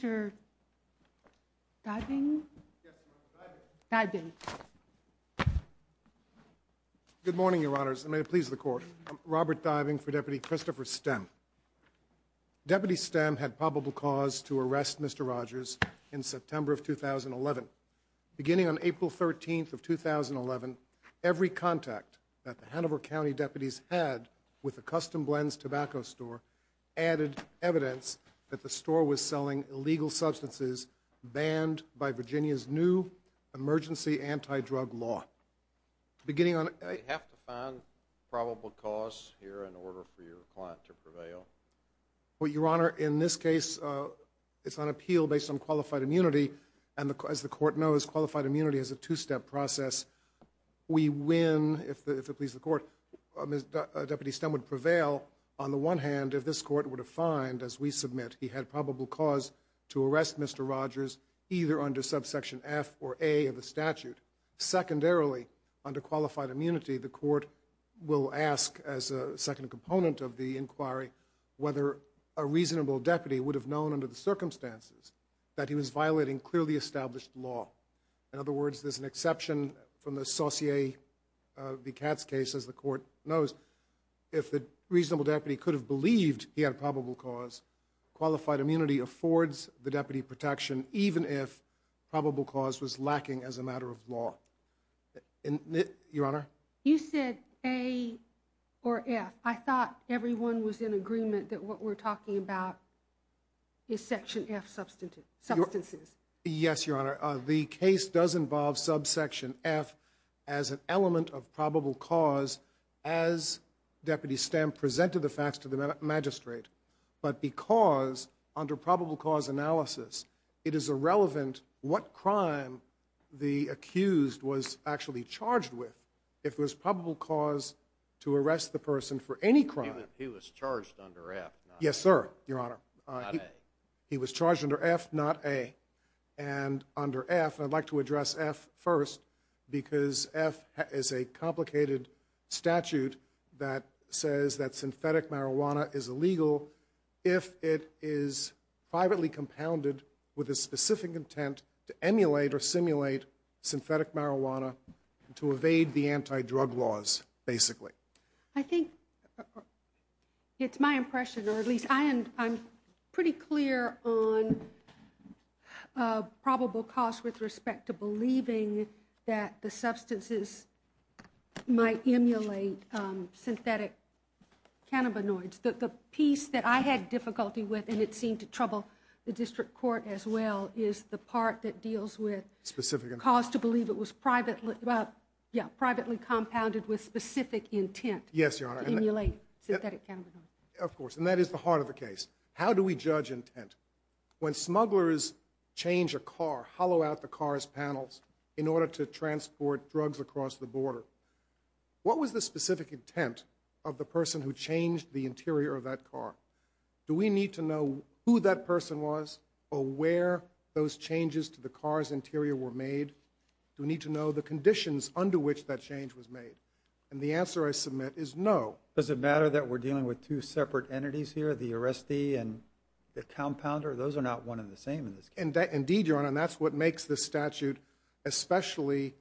Good morning, Your Honors, and may it please the Court. I'm Robert Diving for Deputy Christopher Stem. Deputy Stem had probable cause to arrest Mr. Rogers in September of 2011. Beginning on April 13th of 2011, every contact that the Hanover County deputies had with the Custom Blends tobacco store added evidence that the store was selling illegal substances banned by Virginia's new emergency anti-drug law. Beginning on – I have to find probable cause here in order for your client to prevail? Well, Your Honor, in this case, it's on appeal based on qualified immunity, and as the Court knows, qualified immunity is a two-step process. We win if it pleases the Court. Deputy Stem would prevail on the one hand if this Court were to find, as we submit, he had probable cause to arrest Mr. Rogers either under subsection F or A of the statute. Secondarily, under qualified immunity, the Court will ask as a second component of the inquiry whether a reasonable deputy would have known under the circumstances that he was violating clearly established law. In other words, there's an exception from the Saussure v. Katz case, as the Court knows. If the reasonable deputy could have believed he had probable cause, qualified immunity affords the deputy protection even if probable cause was lacking as a matter of law. Your Honor? You said A or F. I thought everyone was in agreement that what we're talking about is section F substances. Yes, Your Honor. The case does involve subsection F as an element of probable cause as Deputy Stem presented the facts to the magistrate, but because under probable cause analysis, it is irrelevant what crime the accused was actually charged with if it was probable cause to arrest the person for any crime. He was charged under F, not A. Yes, sir, Your Honor. He was charged under F, not A. And under F, I'd like to address F first because F is a complicated statute that says that synthetic marijuana is illegal if it is privately compounded with a specific intent to emulate or simulate synthetic marijuana to evade the anti-drug laws, basically. I think it's my impression, or at least I'm pretty clear on probable cause with respect to believing that the substances might emulate synthetic cannabinoids. The piece that I had difficulty with and it seemed to trouble the District Court as well is the part that deals with cause to believe it was privately compounded with specific intent to emulate synthetic cannabinoids. Of course, and that is the heart of the case. How do we judge intent? When smugglers change a car, hollow out the car's panels in order to transport drugs across the border, what was the specific intent of the person who changed the interior of that car? Do we need to know who that person was or where those changes to the car's interior were made? Do we need to know the conditions under which that change was made? And the answer I submit is no. Does it matter that we're dealing with two separate entities here, the arrestee and the compounder? Those are not one and the same in this case. Indeed, Your Honor, and that's what makes this statute especially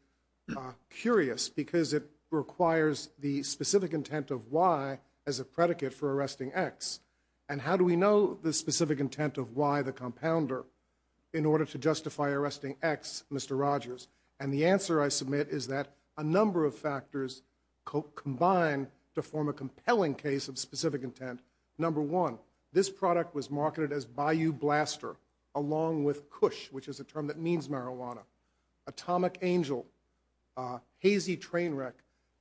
curious because it requires the specific intent of Y as a predicate for arresting X. And how do we know the specific intent of Y, the compounder, in order to justify arresting X, Mr. Rogers? And the answer I submit is that a number of factors combine to form a compelling case of specific intent. Number one, this product was marketed as Bayou Blaster along with Cush, which is a term that means marijuana, Atomic Angel, Hazy Train Wreck.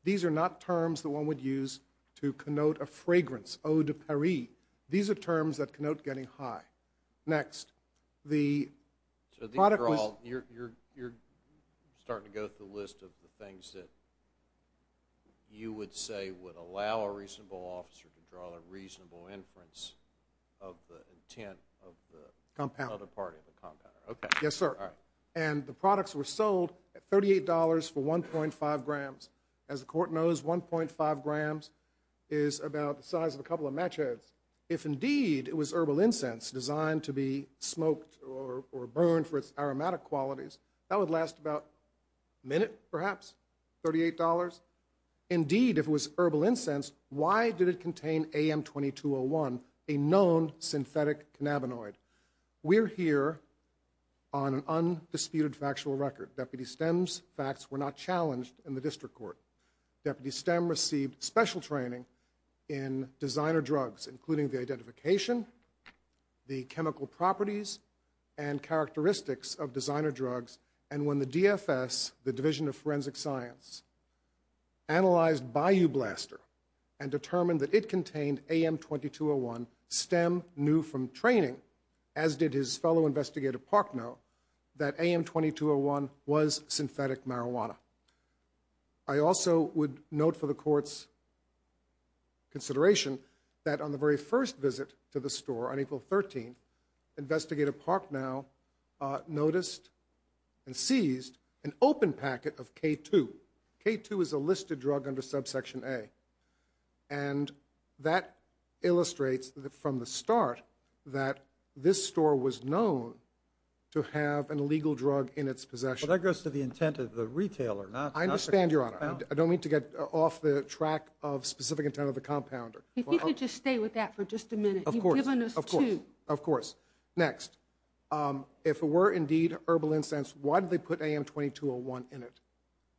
These are not terms that one would use to connote getting high. Next. So you're starting to go through the list of the things that you would say would allow a reasonable officer to draw a reasonable inference of the intent of the other party, the compounder. Yes, sir. And the products were sold at $38 for 1.5 grams. As the Court knows, 1.5 grams is about the size of a couple of match heads. If indeed it was herbal incense designed to be smoked or burned for its aromatic qualities, that would last about a minute, perhaps, $38. Indeed, if it was herbal incense, why did it contain AM-2201, a known synthetic cannabinoid? We're here on an undisputed factual record. Deputy Stem's facts were not challenged in the District Court. Deputy Stem received special training in designer drugs, including the identification, the chemical properties, and characteristics of designer drugs. And when the DFS, the Division of Forensic Science, analyzed Bayou Blaster and determined that it contained AM-2201, Stem knew from training, as did his fellow investigator Parknow, that AM-2201 was synthetic marijuana. I also would note for the Court's consideration that on the very first visit to the store on April 13, Investigator Parknow noticed and seized an open packet of K-2. K-2 is a listed drug under Subsection A. And that illustrates from the start that this store was known to have an illegal drug in its possession. But that goes to the intent of the retailer, not the consumer. I don't mean to get off the track of specific intent of the compounder. If you could just stay with that for just a minute. You've given us two. Of course. Next. If it were indeed herbal incense, why did they put AM-2201 in it?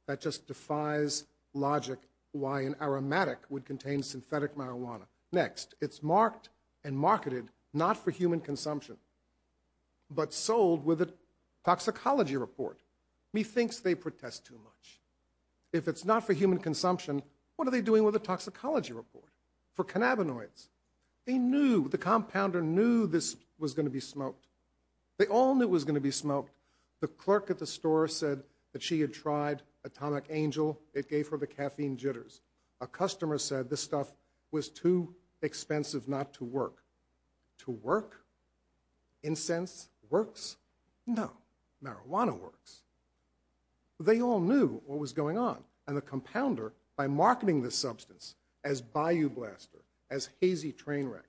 That just defies logic why an aromatic would contain synthetic marijuana. Next. It's marked and marketed not for human consumption, but sold with a toxicology report. Methinks they protest too much. It's marked and marketed. If it's not for human consumption, what are they doing with a toxicology report? For cannabinoids? They knew, the compounder knew this was going to be smoked. They all knew it was going to be smoked. The clerk at the store said that she had tried Atomic Angel. It gave her the caffeine jitters. A customer said this stuff was too expensive not to work. To work? Incense works? No. Marijuana works. They all knew what was going on. But the compounder, by marketing the substance as Bayou Blaster, as Hazy Trainwreck,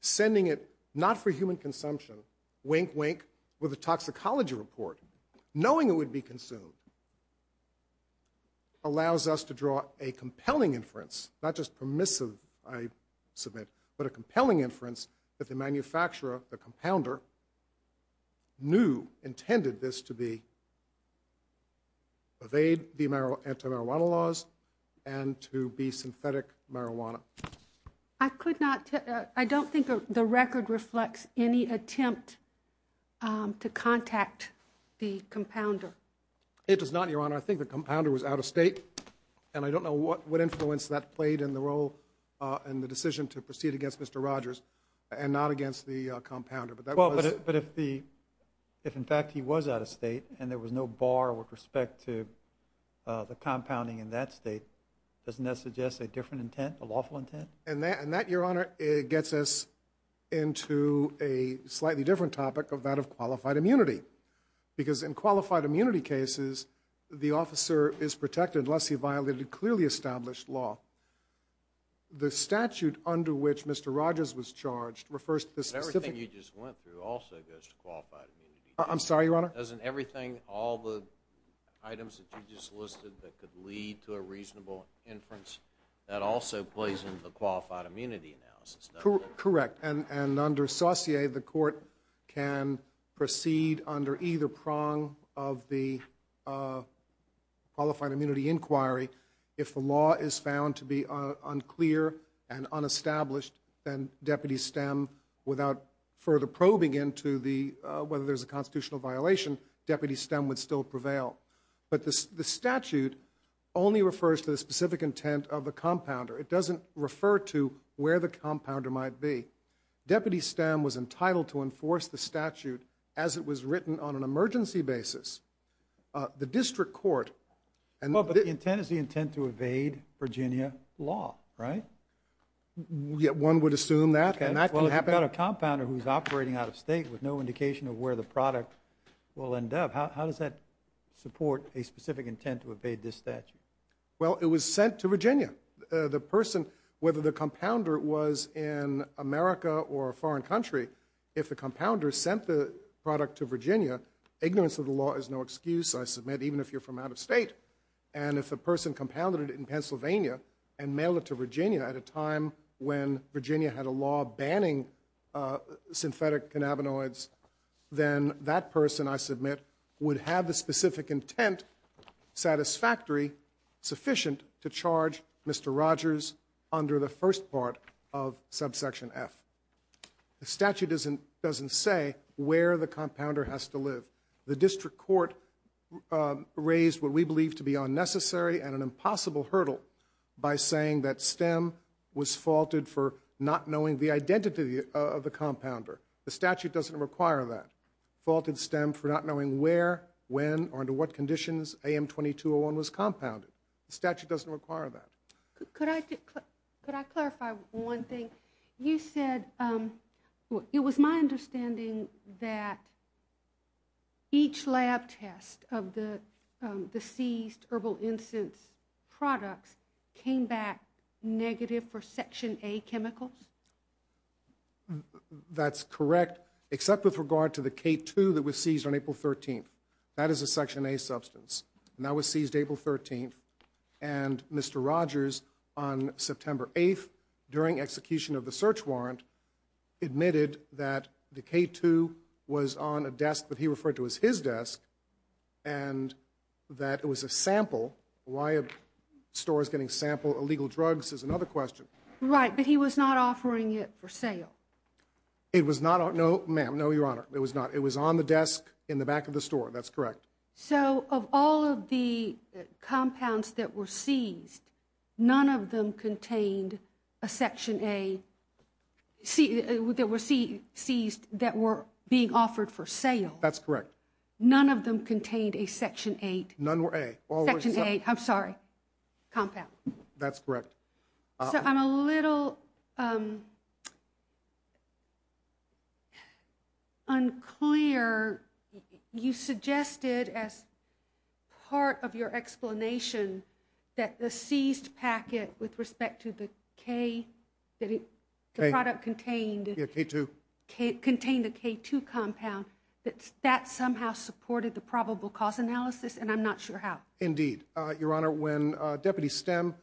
sending it not for human consumption, wink wink, with a toxicology report, knowing it would be consumed, allows us to draw a compelling inference, not just permissive, I submit, but a compelling inference that the manufacturer, the compounder, knew intended this to be, evade the anti-marijuana laws and to be synthetic marijuana. I don't think the record reflects any attempt to contact the compounder. It does not, Your Honor. I think the compounder was out of state. I don't know what influence that played in the decision to proceed against Mr. Rogers and not against the compounder. But if in fact he was out of state and there was no bar with respect to the compounding in that state, doesn't that suggest a different intent, a lawful intent? And that, Your Honor, gets us into a slightly different topic of that of qualified immunity. Because in qualified immunity cases, the officer is protected unless he violated clearly established law. The statute under which Mr. Rogers was charged refers to the I'm sorry, Your Honor? Doesn't everything, all the items that you just listed that could lead to a reasonable inference, that also plays into the qualified immunity analysis? Correct. And under Saussure, the court can proceed under either prong of the qualified immunity inquiry if the law is found to be unclear and unestablished, then deputies stem without further probing into whether there's a constitutional violation, deputies stem would still prevail. But the statute only refers to the specific intent of the compounder. It doesn't refer to where the compounder might be. Deputies stem was entitled to enforce the statute as it was written on an emergency basis. The district court and But the intent is the intent to evade Virginia law, right? Yeah, one would assume that, and that can happen. Well, if you've got a compounder who's operating out of state with no indication of where the product will end up, how does that support a specific intent to evade this statute? Well, it was sent to Virginia. The person, whether the compounder was in America or a foreign country, if the compounder sent the product to Virginia, ignorance of the law is no excuse, I submit, even if you're from out of state. And if the person compounded in Pennsylvania and mailed it to Virginia at a time when Virginia had a law banning synthetic cannabinoids, then that person, I submit, would have the specific intent satisfactory sufficient to charge Mr. Rogers under the first part of subsection F. The statute doesn't say where the compounder has to live. The district court raised what hurdle by saying that STEM was faulted for not knowing the identity of the compounder. The statute doesn't require that. Faulted STEM for not knowing where, when, or under what conditions AM2201 was compounded. The statute doesn't require that. Could I clarify one thing? You said, it was my understanding that each lab test of the seized herbal incense products came back negative for Section A chemicals? That's correct, except with regard to the K2 that was seized on April 13th. That is a Section A substance. That was seized April 13th. And Mr. Rogers, on September 8th, during execution of the search warrant, admitted that the K2 was on a desk that he referred to as his desk, and that it was a sample. Why a store is getting sample illegal drugs is another question. Right, but he was not offering it for sale. It was not, no, ma'am, no, Your Honor, it was not. It was on the desk in the back of the store, that's correct. So, of all of the compounds that were seized, none of them contained a Section A, that were seized, that were being offered for sale? That's correct. None of them contained a Section A compound? That's correct. So, I'm a little unclear. You suggested, as part of your explanation, that the seized packet with respect to the K, the product contained a K2 compound, that that somehow supported the probable cause analysis, and I'm not sure how. Indeed. Your Honor, when Deputy Stem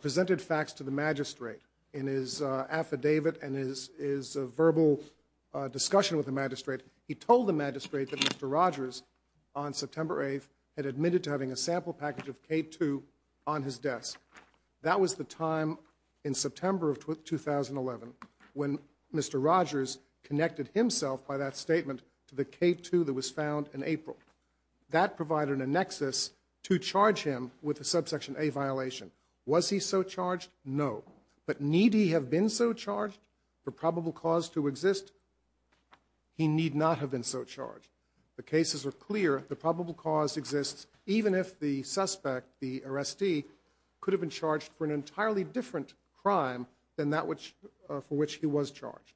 presented facts to the Magistrate in his affidavit and his verbal discussion with the Magistrate, he told the Magistrate that Mr. Rogers, on September 8th, had admitted to having a sample when Mr. Rogers connected himself, by that statement, to the K2 that was found in April. That provided a nexus to charge him with a Subsection A violation. Was he so charged? No. But need he have been so charged for probable cause to exist? He need not have been so charged. The cases are clear, the probable cause exists, even if the suspect, the arrestee, could have been charged for an entirely different crime than that for which he was charged.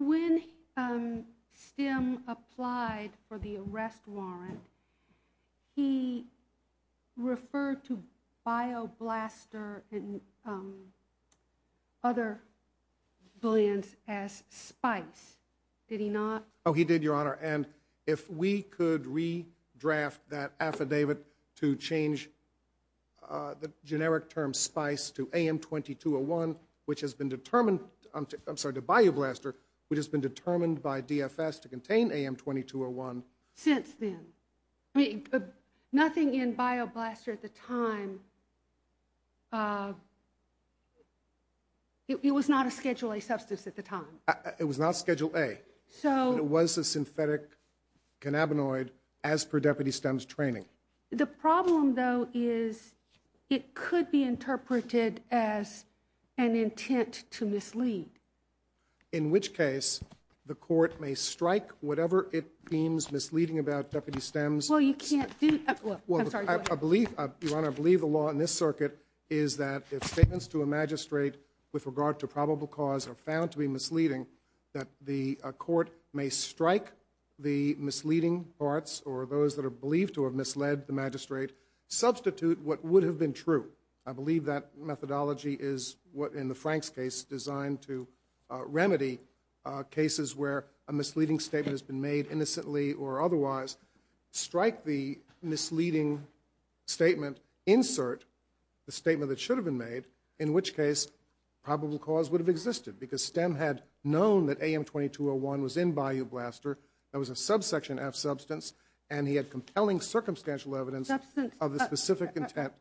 When Stem applied for the arrest warrant, he referred to Bioblaster and other billions as Spice, did he not? Oh, he did, Your Honor, and if we could redraft that affidavit to change the generic term Spice to AM2201, which has been determined to, I'm sorry, to Bioblaster, which has been determined by DFS to contain AM2201. Since then? Nothing in Bioblaster at the time, it was not a Schedule A substance at the time? It was not Schedule A, but it was a synthetic cannabinoid as per Deputy Stem's training. The problem, though, is it could be interpreted as an intent to mislead. In which case, the court may strike whatever it deems misleading about Deputy Stem's. Well, you can't do that, I'm sorry, go ahead. I believe, Your Honor, I believe the law in this circuit is that if statements to a magistrate with regard to probable cause are found to be misleading, that the court may strike the misleading parts or those that are believed to have misled the magistrate, substitute what would have been true. I believe that methodology is what, in the Frank's case, designed to remedy cases where a misleading statement has been made innocently or otherwise, strike the misleading statement, insert the statement that should have been made, in which case probable cause would have existed because Stem had known that AM2201 was in Bioblaster, that was a subsection F substance, and he had compelling circumstantial evidence of the specific intent.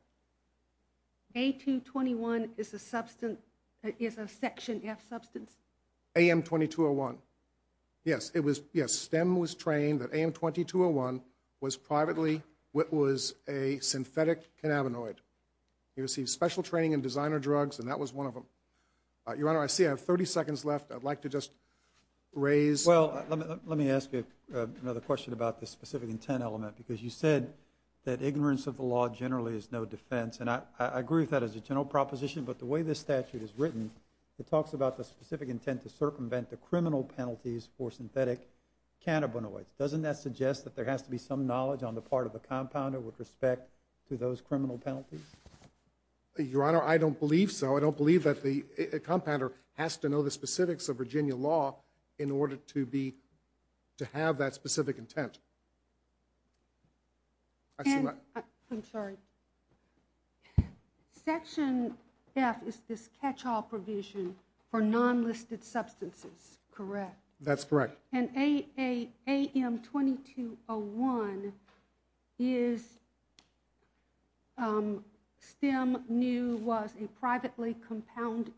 A221 is a substance, is a section F substance? AM2201, yes, it was, yes, Stem was trained that AM2201 was privately, was a synthetic cannabinoid. He received special training in designer drugs and that was one of them. Your Honor, I see I have 30 seconds left. I'd like to just raise... Well, let me ask you another question about the specific intent element because you said that ignorance of the law generally is no defense and I agree with that as a general proposition but the way this statute is written, it talks about the specific intent to circumvent the criminal penalties for synthetic cannabinoids. Doesn't that suggest that there has to be some knowledge on the part of the compounder with respect to those criminal penalties? Your Honor, I don't believe so. I don't believe that the compounder has to know the specifics of Virginia law in order to be, to have that specific intent. I'm sorry. Section F is this catch-all provision for non-listed substances, correct? That's correct. And AM2201 is, Stem knew was privately compounded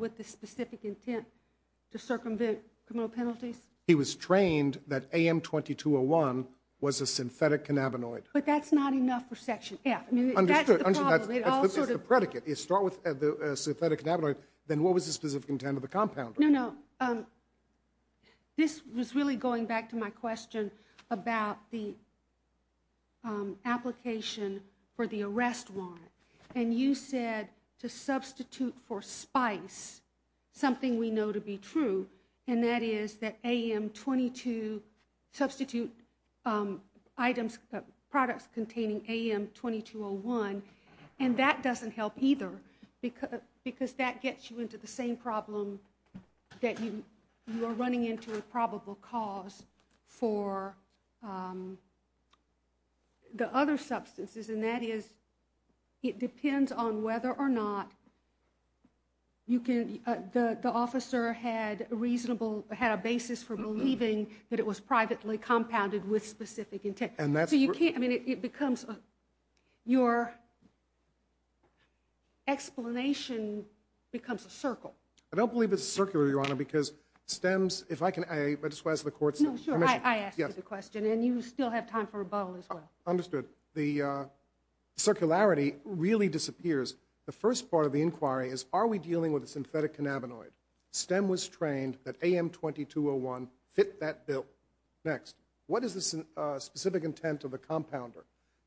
with the specific intent to circumvent criminal penalties? He was trained that AM2201 was a synthetic cannabinoid. But that's not enough for Section F. Understood. That's the predicate. You start with the synthetic cannabinoid, then what was the specific intent of the compounder? No, no. This was really going back to my question about the application for the arrest warrant. And you said to substitute for spice something we know to be true. And that is that AM22, substitute items, products containing AM2201. And that doesn't help either because that gets you into the same problem that you are running into a probable cause for the other substances. And that is, it depends on whether or not the officer had a reasonable, had a basis for believing that it was privately compounded with specific intent. So you can't, I mean it becomes, your explanation becomes a circle. I don't believe it's a circle, Your Honor, because Stem's, if I can, I just ask the court's permission. No, sure. I asked you the question and you still have time for rebuttal as well. Understood. The circularity really disappears. The first part of the inquiry is are we dealing with a synthetic cannabinoid? Stem was trained that AM2201 fit that bill. Next, what is the specific intent of the compounder?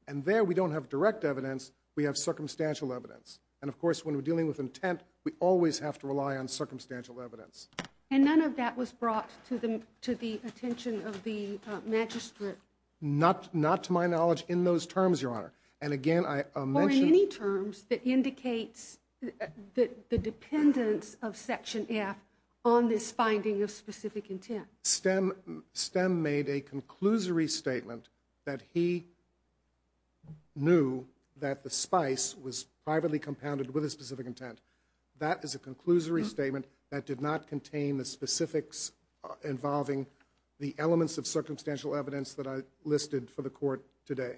And there we don't have direct evidence, we have circumstantial evidence. And of course when we're dealing with intent, we always have to rely on circumstantial evidence. And none of that was brought to the attention of the magistrate? Not to my knowledge in those terms, Your Honor. And again, I mentioned... Or in any terms that indicates the dependence of Section F on this finding of specific intent. Stem made a conclusory statement that he knew that the spice was privately compounded with a specific intent. That is a conclusory statement that did not contain the specifics involving the elements of circumstantial evidence that I listed for the court today.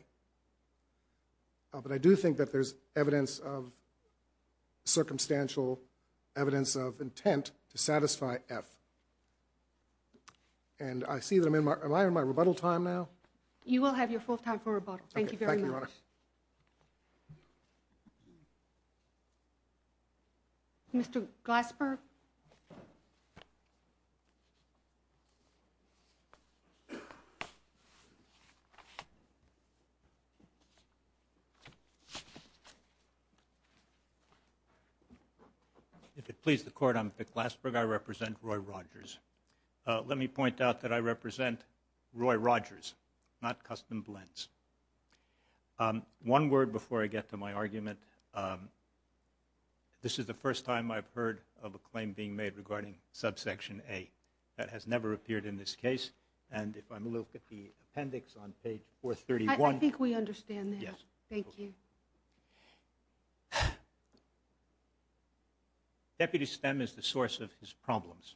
But I do think that there's evidence of to satisfy F. And I see that I'm in my... Am I in my rebuttal time now? You will have your full time for rebuttal. Thank you very much. Thank you, Your Honor. Mr. Glasper? If it pleases the Court, I'm Vic Glasper. I represent Roy Rogers. Let me point out that I represent Roy Rogers, not Customs Blends. One word before I get to my argument. This is the first time I've heard of a claim that Roy Rogers regarding Subsection A. That has never appeared in this case. And if I look at the appendix on page 431... I think we understand that. Thank you. Deputy Stem is the source of his problems.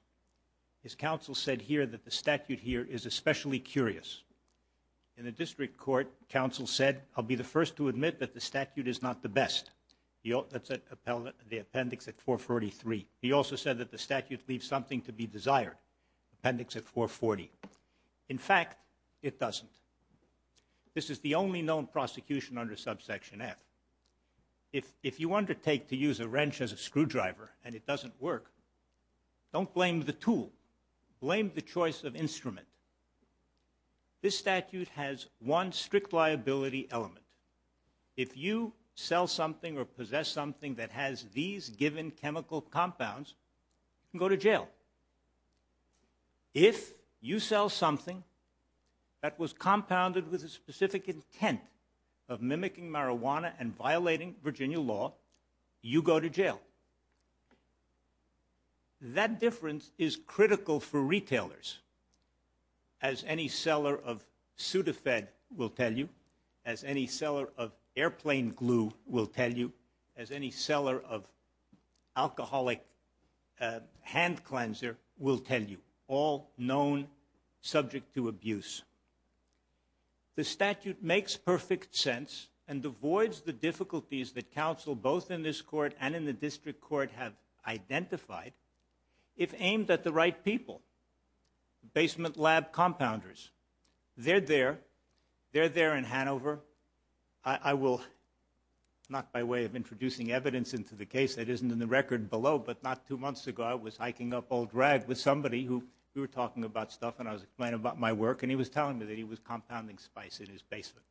His counsel said here that the statute here is especially curious. In the District Court, counsel said, I'll be the first to admit that the statute is not the best. That's the appendix at 443. He also said that the statute leaves something to be desired. Appendix at 440. In fact, it doesn't. This is the only known prosecution under Subsection F. If you undertake to use a wrench as a screwdriver, and it doesn't work, don't blame the tool. Blame the choice of instrument. This statute has one strict liability element. If you sell something or possess something that has these given chemical compounds, you can go to jail. If you sell something that was compounded with a specific intent of mimicking marijuana and violating Virginia law, you go to jail. That difference is critical for retailers. As any seller of Sudafed will tell you. As any seller of airplane glue will tell you. As any seller of alcoholic hand cleanser will tell you. All known subject to abuse. The statute makes perfect sense and avoids the difficulties that counsel both in this court and in the District Court have identified if aimed at the right people. Basement lab compounders. They're there. They're there in Hanover. I will, not by way of introducing evidence into the case, that isn't in the record below, but not two months ago I was hiking up Old Rag with somebody who we were talking about stuff and I was explaining about my work and he was telling me that he was compounding spice in his basement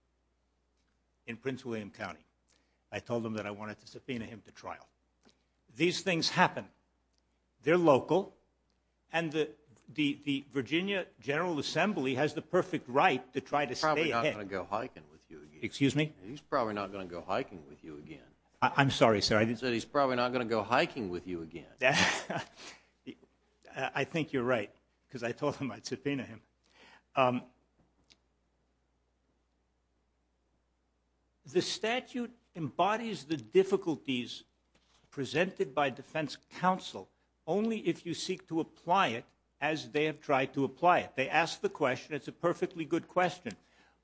in Prince William County. I told him that I wanted to subpoena him to trial. These things happen. They're local. And the Virginia General Assembly has the perfect right to try to stay ahead. He's probably not going to go hiking with you again. Excuse me? He's probably not going to go hiking with you again. I'm sorry, sir. He said he's probably not going to go hiking with you again. I think you're right because I told him I'd subpoena him. The statute embodies the difficulties presented by defense counsel only if you seek to apply it as they have tried to apply it. They ask the question. It's a perfectly good question.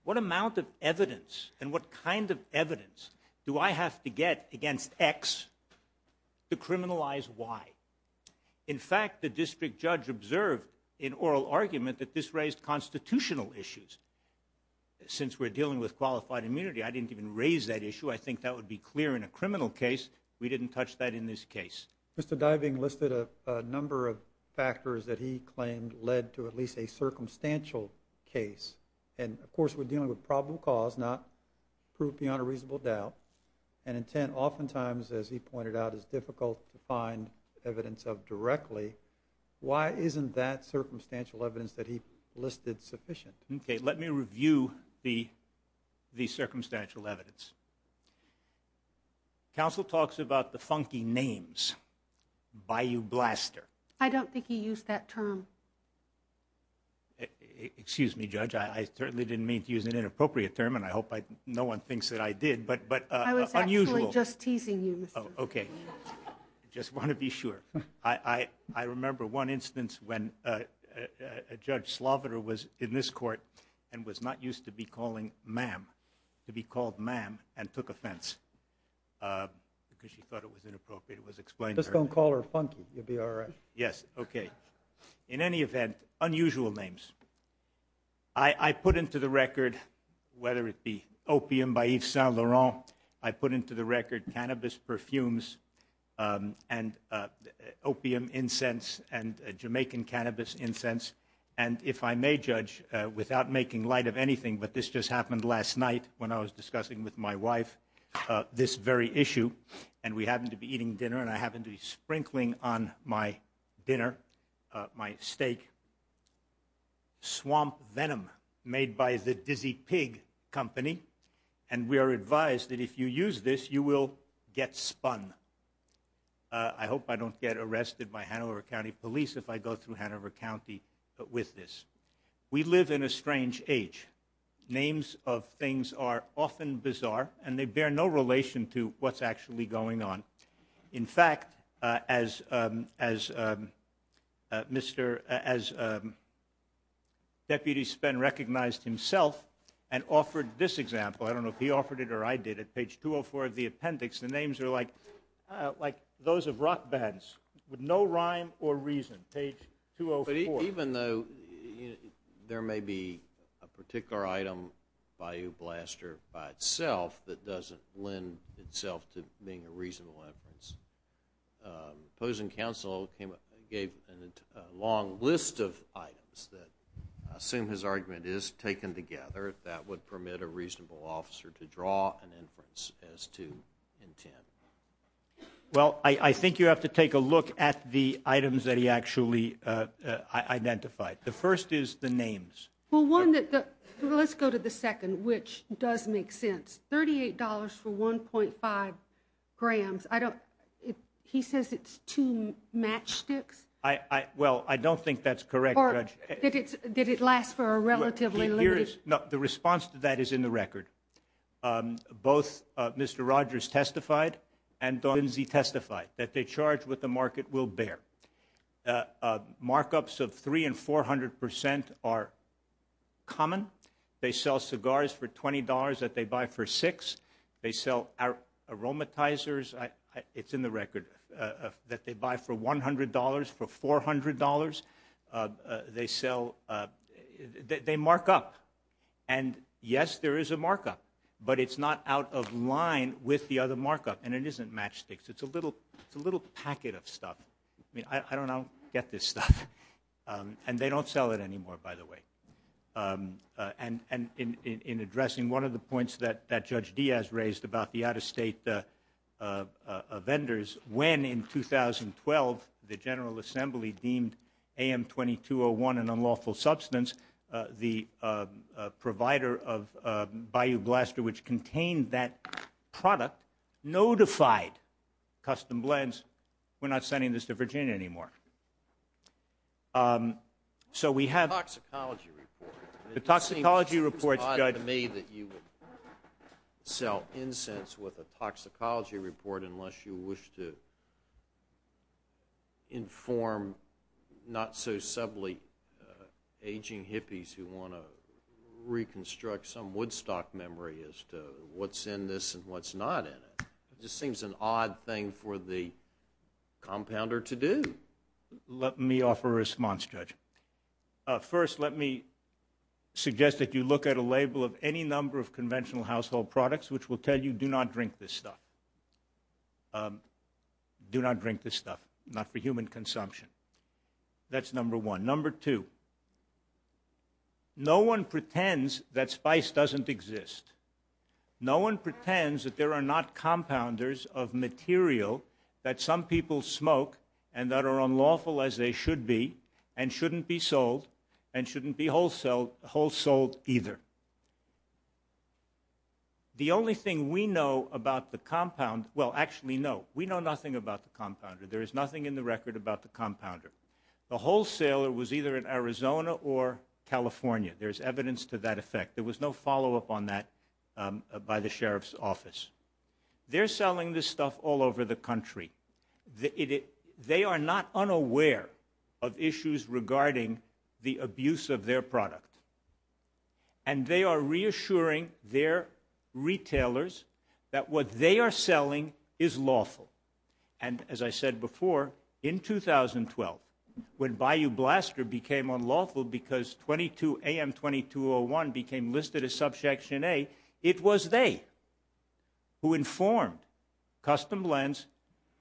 What amount of evidence and what kind of evidence do I have to get against X to criminalize Y? In fact, the district judge observed in oral argument that this raised constitutional issues. Since we're dealing with qualified immunity, I didn't even raise that issue. I think that would be clear in a criminal case. We didn't touch that in this case. Mr. Diving listed a number of factors that he claimed led to at least a circumstantial case. And, of course, we're dealing with probable cause, not proof beyond a reasonable doubt, an intent oftentimes, as he pointed out, is difficult to find evidence of directly. Why isn't that circumstantial evidence that he listed sufficient? Okay, let me review the circumstantial evidence. Counsel talks about the funky names. Bayou Blaster. I don't think he used that term. Excuse me, Judge. I certainly didn't mean to use an inappropriate term, and I hope no one thinks that I did, but unusual. I was actually just teasing you, Mr. Diving. Okay. I just want to be sure. I remember one instance when Judge Sloviter was in this court and was not used to be called ma'am, to be called ma'am and took offense because she thought it was inappropriate. Just don't call her funky. You'll be all right. Yes, okay. In any event, unusual names. I put into the record, whether it be opium by Yves Saint Laurent, I put into the record cannabis perfumes and opium incense and Jamaican cannabis incense, and if I may, Judge, without making light of anything, but this just happened last night when I was discussing with my wife this very issue, and we happened to be eating dinner, and I happened to be sprinkling on my dinner, my steak, swamp venom made by the Dizzy Pig Company, and we are advised that if you use this, you will get spun. I hope I don't get arrested by Hanover County Police if I go through Hanover County with this. We live in a strange age. Names of things are often bizarre, and they bear no relation to what's actually going on. In fact, as Deputy Spen recognized himself and offered this example. I don't know if he offered it or I did. At page 204 of the appendix, the names are like those of rock bands with no rhyme or reason, page 204. Even though there may be a particular item by a blaster by itself that doesn't lend itself to being a reasonable inference, opposing counsel gave a long list of items that I assume his argument is taken together that would permit a reasonable officer to draw an inference as to intent. Well, I think you have to take a look at the items that he actually identified. The first is the names. Well, let's go to the second, which does make sense. $38 for 1.5 grams. He says it's two matchsticks? Well, I don't think that's correct, Judge. Or did it last for a relatively long time? The response to that is in the record. Both Mr. Rogers testified and Don Lindsey testified that they charge what the market will bear. Markups of 300% and 400% are common. They sell cigars for $20 that they buy for $6. They sell aromatizers. It's in the record that they buy for $100 for $400. They mark up. And, yes, there is a markup, but it's not out of line with the other markup, and it isn't matchsticks. It's a little packet of stuff. I don't know how to get this stuff. And they don't sell it anymore, by the way. And in addressing one of the points that Judge Diaz raised about the out-of-state vendors, when in 2012 the General Assembly deemed AM-2201 an unlawful substance, the provider of Bayou Blaster, which contained that product, notified Custom Blends, we're not sending this to Virginia anymore. So we have the toxicology reports. It seems odd to me that you would sell incense with a toxicology report unless you wish to inform not-so-subtly aging hippies who want to reconstruct some Woodstock memory as to what's in this and what's not in it. It just seems an odd thing for the compounder to do. Let me offer a response, Judge. First, let me suggest that you look at a label of any number of conventional household products which will tell you do not drink this stuff. Do not drink this stuff, not for human consumption. That's number one. Number two, no one pretends that spice doesn't exist. No one pretends that there are not compounders of material that some people smoke and that are unlawful as they should be and shouldn't be sold and shouldn't be wholesold either. The only thing we know about the compounder, well, actually, no, we know nothing about the compounder. There is nothing in the record about the compounder. The wholesaler was either in Arizona or California. There's evidence to that effect. There was no follow-up on that by the Sheriff's Office. They're selling this stuff all over the country. They are not unaware of issues regarding the abuse of their product, and they are reassuring their retailers that what they are selling is lawful. And as I said before, in 2012, when Bayou Blaster became unlawful because 22AM2201 became listed as Subsection A, it was they who informed Custom Lens,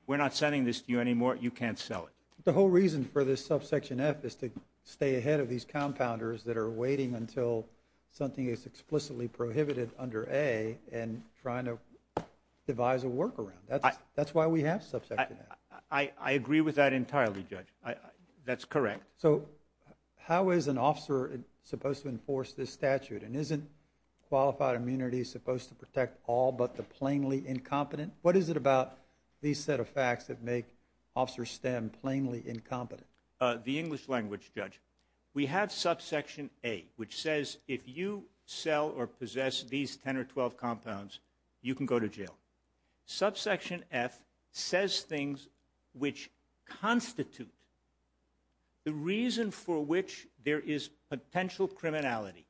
we're not sending this to you anymore, you can't sell it. The whole reason for this Subsection F is to stay ahead of these compounders that are waiting until something is explicitly prohibited under A and trying to devise a workaround. That's why we have Subsection F. I agree with that entirely, Judge. That's correct. So how is an officer supposed to enforce this statute? And isn't qualified immunity supposed to protect all but the plainly incompetent? What is it about these set of facts that make officers stem plainly incompetent? The English language, Judge. We have Subsection A, which says if you sell or possess these 10 or 12 compounds, you can go to jail. Subsection F says things which constitute the reason for which there is potential criminality.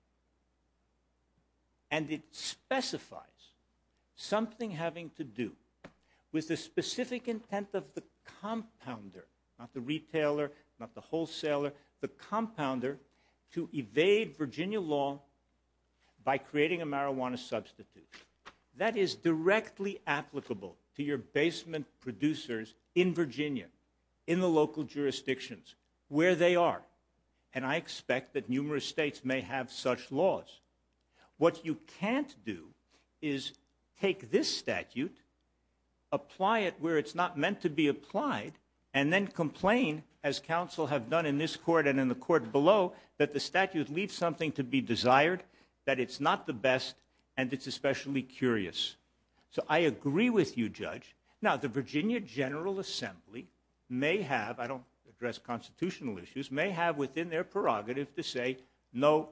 And it specifies something having to do with the specific intent of the compounder, not the retailer, not the wholesaler, the compounder, to evade Virginia law by creating a marijuana substitute. That is directly applicable to your basement producers in Virginia, in the local jurisdictions where they are. And I expect that numerous states may have such laws. What you can't do is take this statute, apply it where it's not meant to be applied, and then complain, as counsel have done in this court and in the court below, that the statute leaves something to be desired, that it's not the best, and it's especially curious. So I agree with you, Judge. Now, the Virginia General Assembly may have, I don't address constitutional issues, may have within their prerogative to say no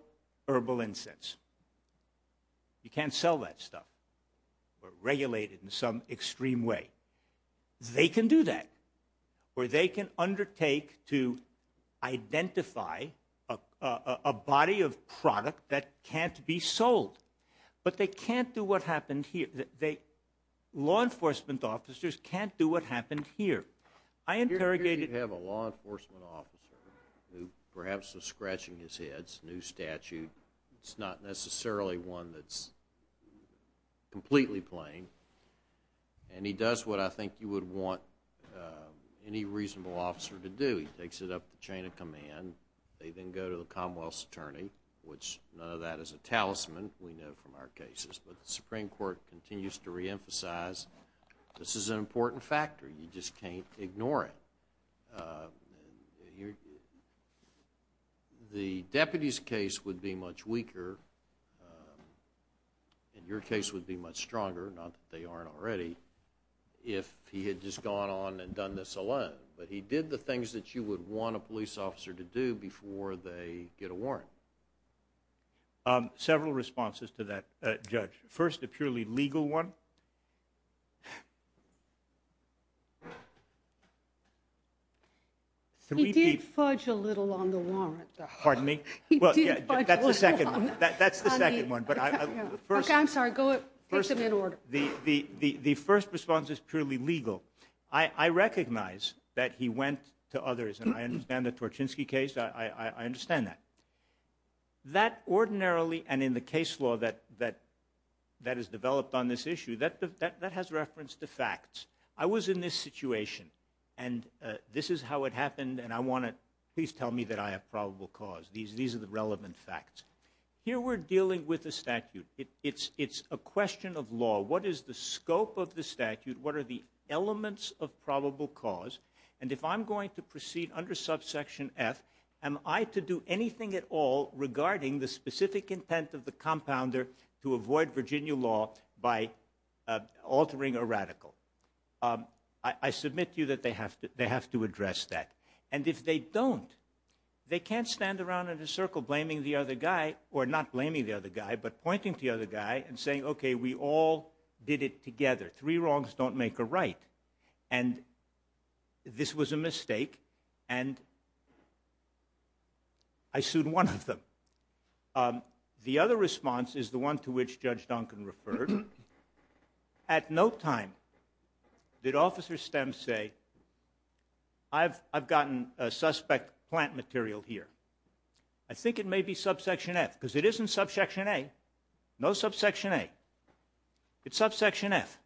herbal incense. You can't sell that stuff. We're regulated in some extreme way. They can do that, or they can undertake to identify a body of product that can't be sold. But they can't do what happened here. Law enforcement officers can't do what happened here. I interrogated... Here you have a law enforcement officer who perhaps is scratching his head. It's a new statute. It's not necessarily one that's completely plain. And he does what I think you would want any reasonable officer to do. He takes it up the chain of command. They then go to the Commonwealth's attorney, which none of that is a talisman, we know from our cases, but the Supreme Court continues to reemphasize this is an important factor. You just can't ignore it. The deputy's case would be much weaker, and your case would be much stronger, not that they aren't already, if he had just gone on and done this alone. But he did the things that you would want a police officer to do before they get a warrant. Several responses to that, Judge. First, a purely legal one. He did fudge a little on the warrant, though. Pardon me? That's the second one. Okay, I'm sorry. Take them in order. The first response is purely legal. I recognize that he went to others, and I understand the Torchinsky case. I understand that. That ordinarily, and in the case law that is developed on this issue, that has reference to facts. I was in this situation, and this is how it happened, and please tell me that I have probable cause. These are the relevant facts. Here we're dealing with a statute. It's a question of law. What is the scope of the statute? What are the elements of probable cause? And if I'm going to proceed under subsection F, am I to do anything at all regarding the specific intent of the compounder to avoid Virginia law by altering a radical? I submit to you that they have to address that. And if they don't, they can't stand around in a circle blaming the other guy, or not blaming the other guy, but pointing to the other guy and saying, okay, we all did it together. Three wrongs don't make a right. And this was a mistake, and I sued one of them. The other response is the one to which Judge Duncan referred. At no time did Officer Stem say, I've gotten a suspect plant material here. I think it may be subsection F, because it isn't subsection A. No subsection A. It's subsection F.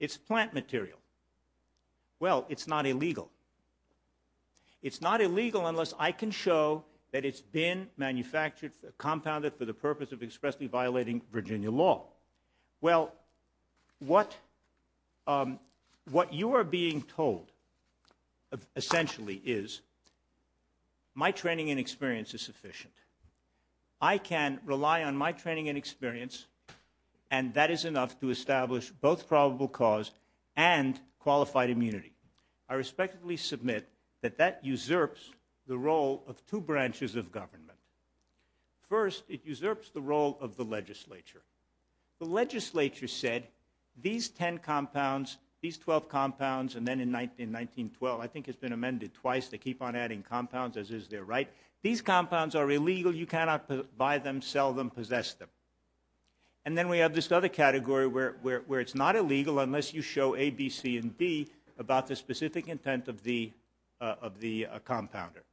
It's plant material. Well, it's not illegal. It's not illegal unless I can show that it's been manufactured, compounded for the purpose of expressly violating Virginia law. Well, what you are being told, essentially, is my training and experience is sufficient. I can rely on my training and experience, and that is enough to establish both probable cause and qualified immunity. I respectfully submit that that usurps the role of two branches of government. First, it usurps the role of the legislature. The legislature said, these 10 compounds, these 12 compounds, and then in 1912, I think it's been amended twice, they keep on adding compounds, as is their right. These compounds are illegal. You cannot buy them, sell them, possess them. And then we have this other category where it's not illegal unless you show A, not the specific intent of the compounder.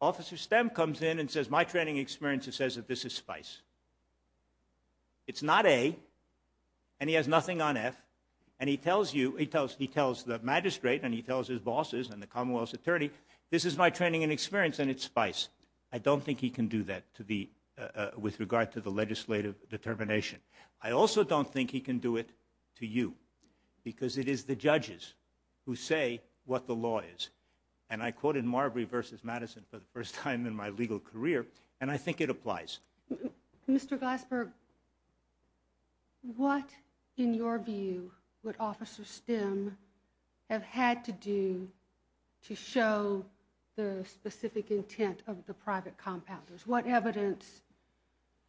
Officer Stem comes in and says, my training and experience says that this is spice. It's not A, and he has nothing on F, and he tells you, he tells the magistrate and he tells his bosses and the Commonwealth's attorney, this is my training and experience and it's spice. I don't think he can do that with regard to the legislative determination. I also don't think he can do it to you, because it is the judges who say what the law is. And I quoted Marbury v. Madison for the first time in my legal career, and I think it applies. Mr. Glasberg, what, in your view, would Officer Stem have had to do to show the specific intent of the private compounders? What evidence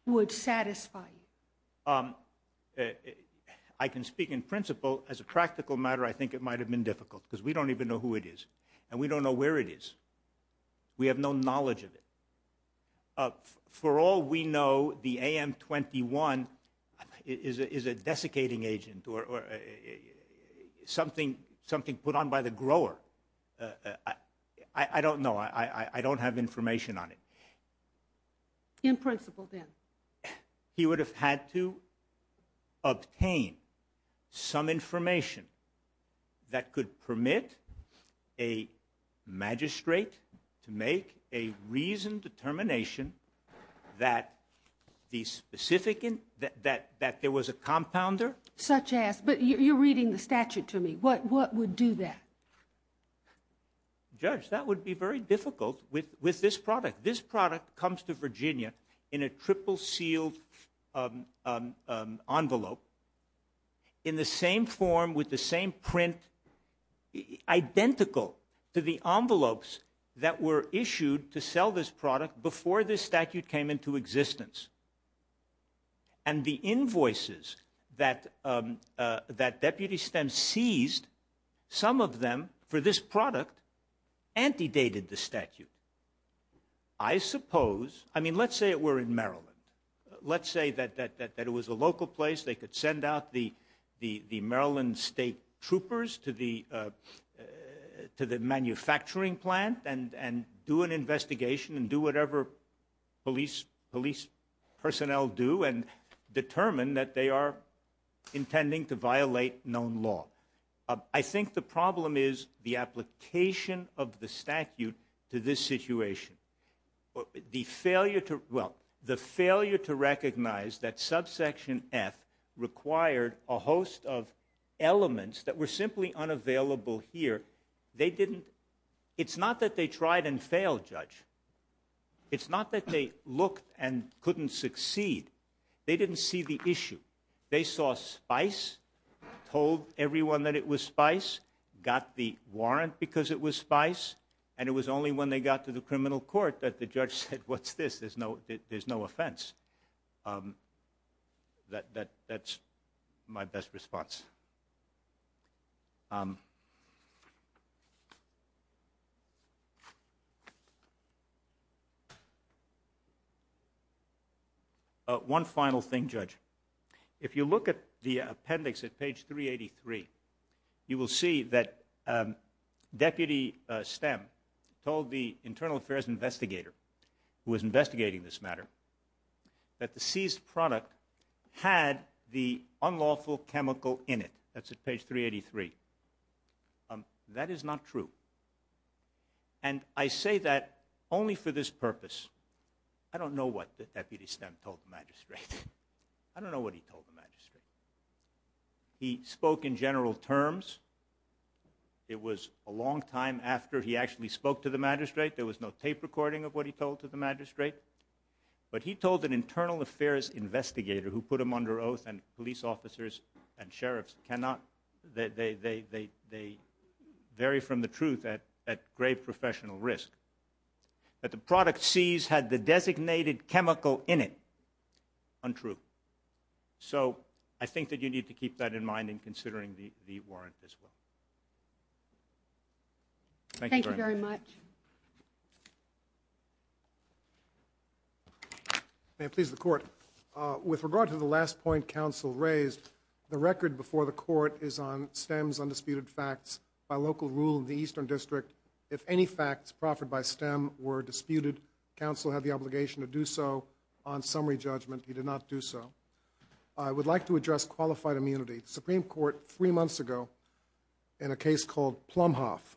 would satisfy you? I can speak in principle. As a practical matter, I think it might have been difficult, because we don't even know who it is, and we don't know where it is. We have no knowledge of it. For all we know, the AM-21 is a desiccating agent or something put on by the grower. I don't know. I don't have information on it. In principle, then? He would have had to obtain some information that could permit a magistrate to make a reasoned determination that there was a compounder. Such as? But you're reading the statute to me. What would do that? Judge, that would be very difficult with this product. This product comes to Virginia in a triple-sealed envelope, in the same form with the same print, identical to the envelopes that were issued to sell this product before this statute came into existence. And the invoices that Deputy Stem seized, some of them for this product, antedated the statute. I suppose, I mean, let's say it were in Maryland. Let's say that it was a local place. They could send out the Maryland State Troopers to the manufacturing plant and do an investigation and do whatever police personnel do and determine that they are intending to violate known law. I think the problem is the application of the statute to this situation. The failure to recognize that subsection F required a host of elements that were simply unavailable here. It's not that they tried and failed, Judge. It's not that they looked and couldn't succeed. They didn't see the issue. They saw spice, told everyone that it was spice, got the warrant because it was spice, and it was only when they got to the criminal court that the judge said, what's this? There's no offense. That's my best response. One final thing, Judge. If you look at the appendix at page 383, you will see that Deputy Stem told the internal affairs investigator who was investigating this matter that the seized product had the unlawful chemical in it. That's at page 383. That is not true. And I say that only for this purpose. I don't know what Deputy Stem told the magistrate. I don't know what he told the magistrate. He spoke in general terms. It was a long time after he actually spoke to the magistrate. There was no tape recording of what he told to the magistrate. But he told an internal affairs investigator who put him under oath, and police officers and sheriffs cannot, they vary from the truth at grave professional risk, that the product seized had the designated chemical in it. Untrue. So I think that you need to keep that in mind in considering the warrant as well. Thank you very much. Thank you very much. May it please the Court. With regard to the last point Counsel raised, the record before the Court is on Stem's undisputed facts by local rule in the Eastern District. If any facts proffered by Stem were disputed, Counsel had the obligation to do so on summary judgment. He did not do so. I would like to address qualified immunity. The Supreme Court, three months ago, in a case called Plumhoff,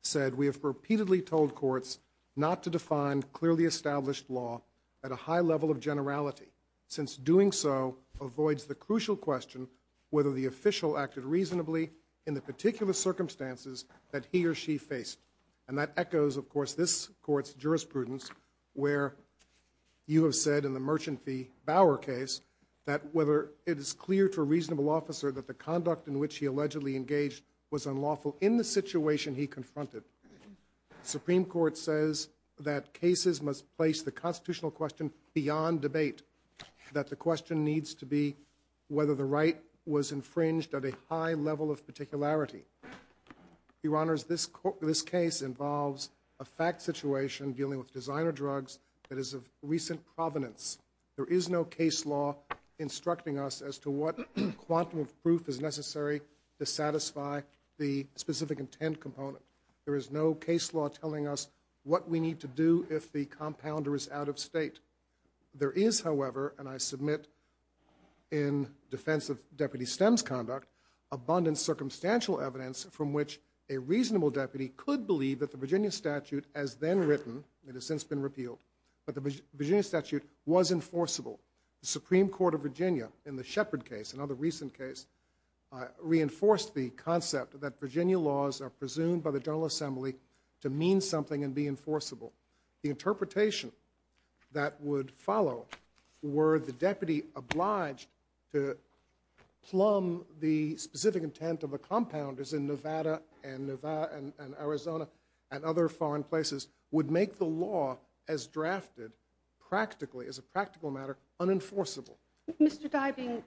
said, we have repeatedly told courts not to define clearly established law at a high level of generality, since doing so avoids the crucial question whether the official acted reasonably in the particular circumstances that he or she faced. And that echoes, of course, this Court's jurisprudence, where you have said in the Merchant v. Bauer case that whether it is clear to a reasonable officer that the conduct in which he allegedly engaged was unlawful in the situation he confronted. The Supreme Court says that cases must place the constitutional question beyond debate, that the question needs to be whether the right was infringed at a high level of particularity. Your Honors, this case involves a fact situation dealing with designer drugs that is of recent provenance. There is no case law instructing us as to what quantum of proof is necessary to satisfy the specific intent component. There is no case law telling us what we need to do if the compounder is out of state. There is, however, and I submit in defense of Deputy Stem's conduct, abundant circumstantial evidence from which a reasonable deputy could believe that the Virginia statute as then written, it has since been repealed, but the Virginia statute was enforceable. The Supreme Court of Virginia, in the Shepard case, another recent case, reinforced the concept that Virginia laws are presumed by the General Assembly to mean something and be enforceable. The interpretation that would follow were the deputy obliged to plumb the specific intent of the compounders in Nevada and Arizona and other foreign places would make the law as drafted practically, as a practical matter, unenforceable. Mr. Dybing,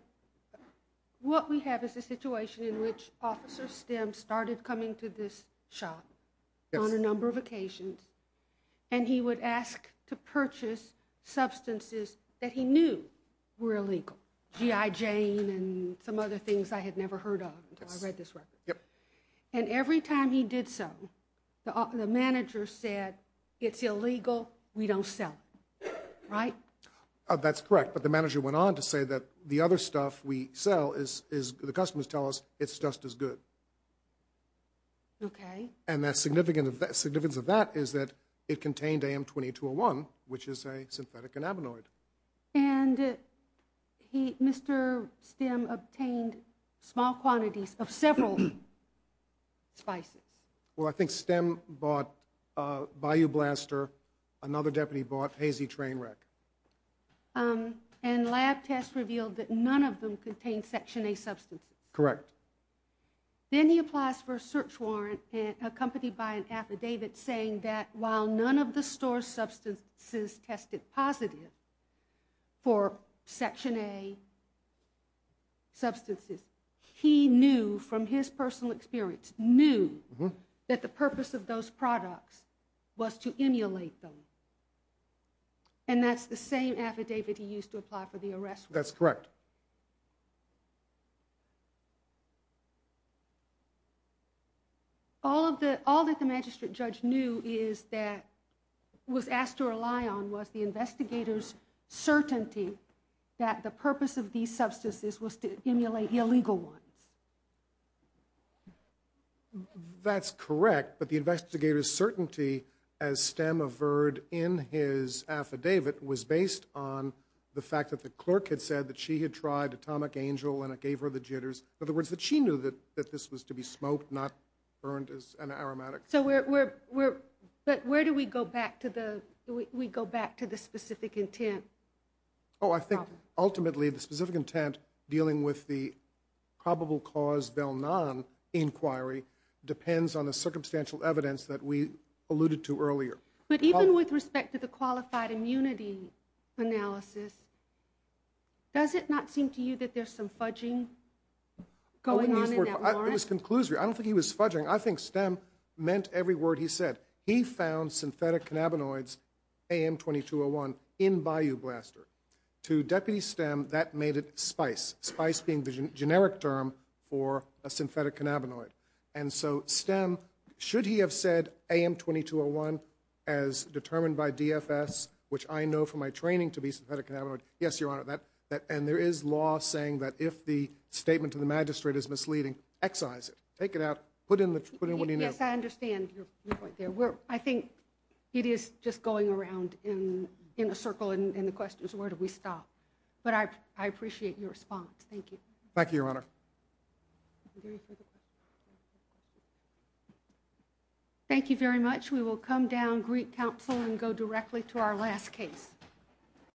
what we have is a situation in which Officer Stem started coming to this shop on a number of occasions, and he would ask to purchase substances that he knew were illegal. G.I. Jane and some other things I had never heard of until I read this record. And every time he did so, the manager said, it's illegal, we don't sell it. Right? That's correct. But the manager went on to say that the other stuff we sell is, the customers tell us, it's just as good. Okay. And the significance of that is that it contained AM-2201, which is a synthetic anabenoid. And Mr. Stem obtained small quantities of several spices. Well, I think Stem bought Bayou Blaster, another deputy bought Hazy Trainwreck. And lab tests revealed that none of them contained Section A substances. Correct. Then he applies for a search warrant accompanied by an affidavit saying that while none of the store's substances tested positive for Section A substances, he knew from his personal experience, knew that the purpose of those products was to emulate them. And that's the same affidavit he used to apply for the arrest warrant. That's correct. All that the magistrate judge knew is that, was asked to rely on, was the investigator's certainty that the purpose of these substances was to emulate illegal ones. That's correct. But the investigator's certainty, as Stem averred in his affidavit, was based on the fact that the clerk had said that she had tried Atomic Angel and it gave her the jitters. In other words, that she knew that this was to be smoked, not burned as an aromatic. That's correct. But where do we go back to the specific intent? Oh, I think ultimately the specific intent dealing with the probable cause Bell-Nan inquiry depends on the circumstantial evidence that we alluded to earlier. But even with respect to the qualified immunity analysis, does it not seem to you that there's some fudging going on in that warrant? It was conclusory. I don't think he was fudging. I think Stem meant every word he said. He found synthetic cannabinoids, AM2201, in Bayou Blaster. To Deputy Stem, that made it SPICE, SPICE being the generic term for a synthetic cannabinoid. And so Stem, should he have said AM2201 as determined by DFS, which I know from my training to be synthetic cannabinoid, yes, Your Honor, and there is law saying that if the statement to the magistrate is misleading, excise it, take it out, put in what he knew. Yes, I understand your point there. I think it is just going around in a circle and the question is where do we stop? But I appreciate your response. Thank you. Thank you, Your Honor. Thank you very much. We will come down, greet counsel, and go directly to our last case.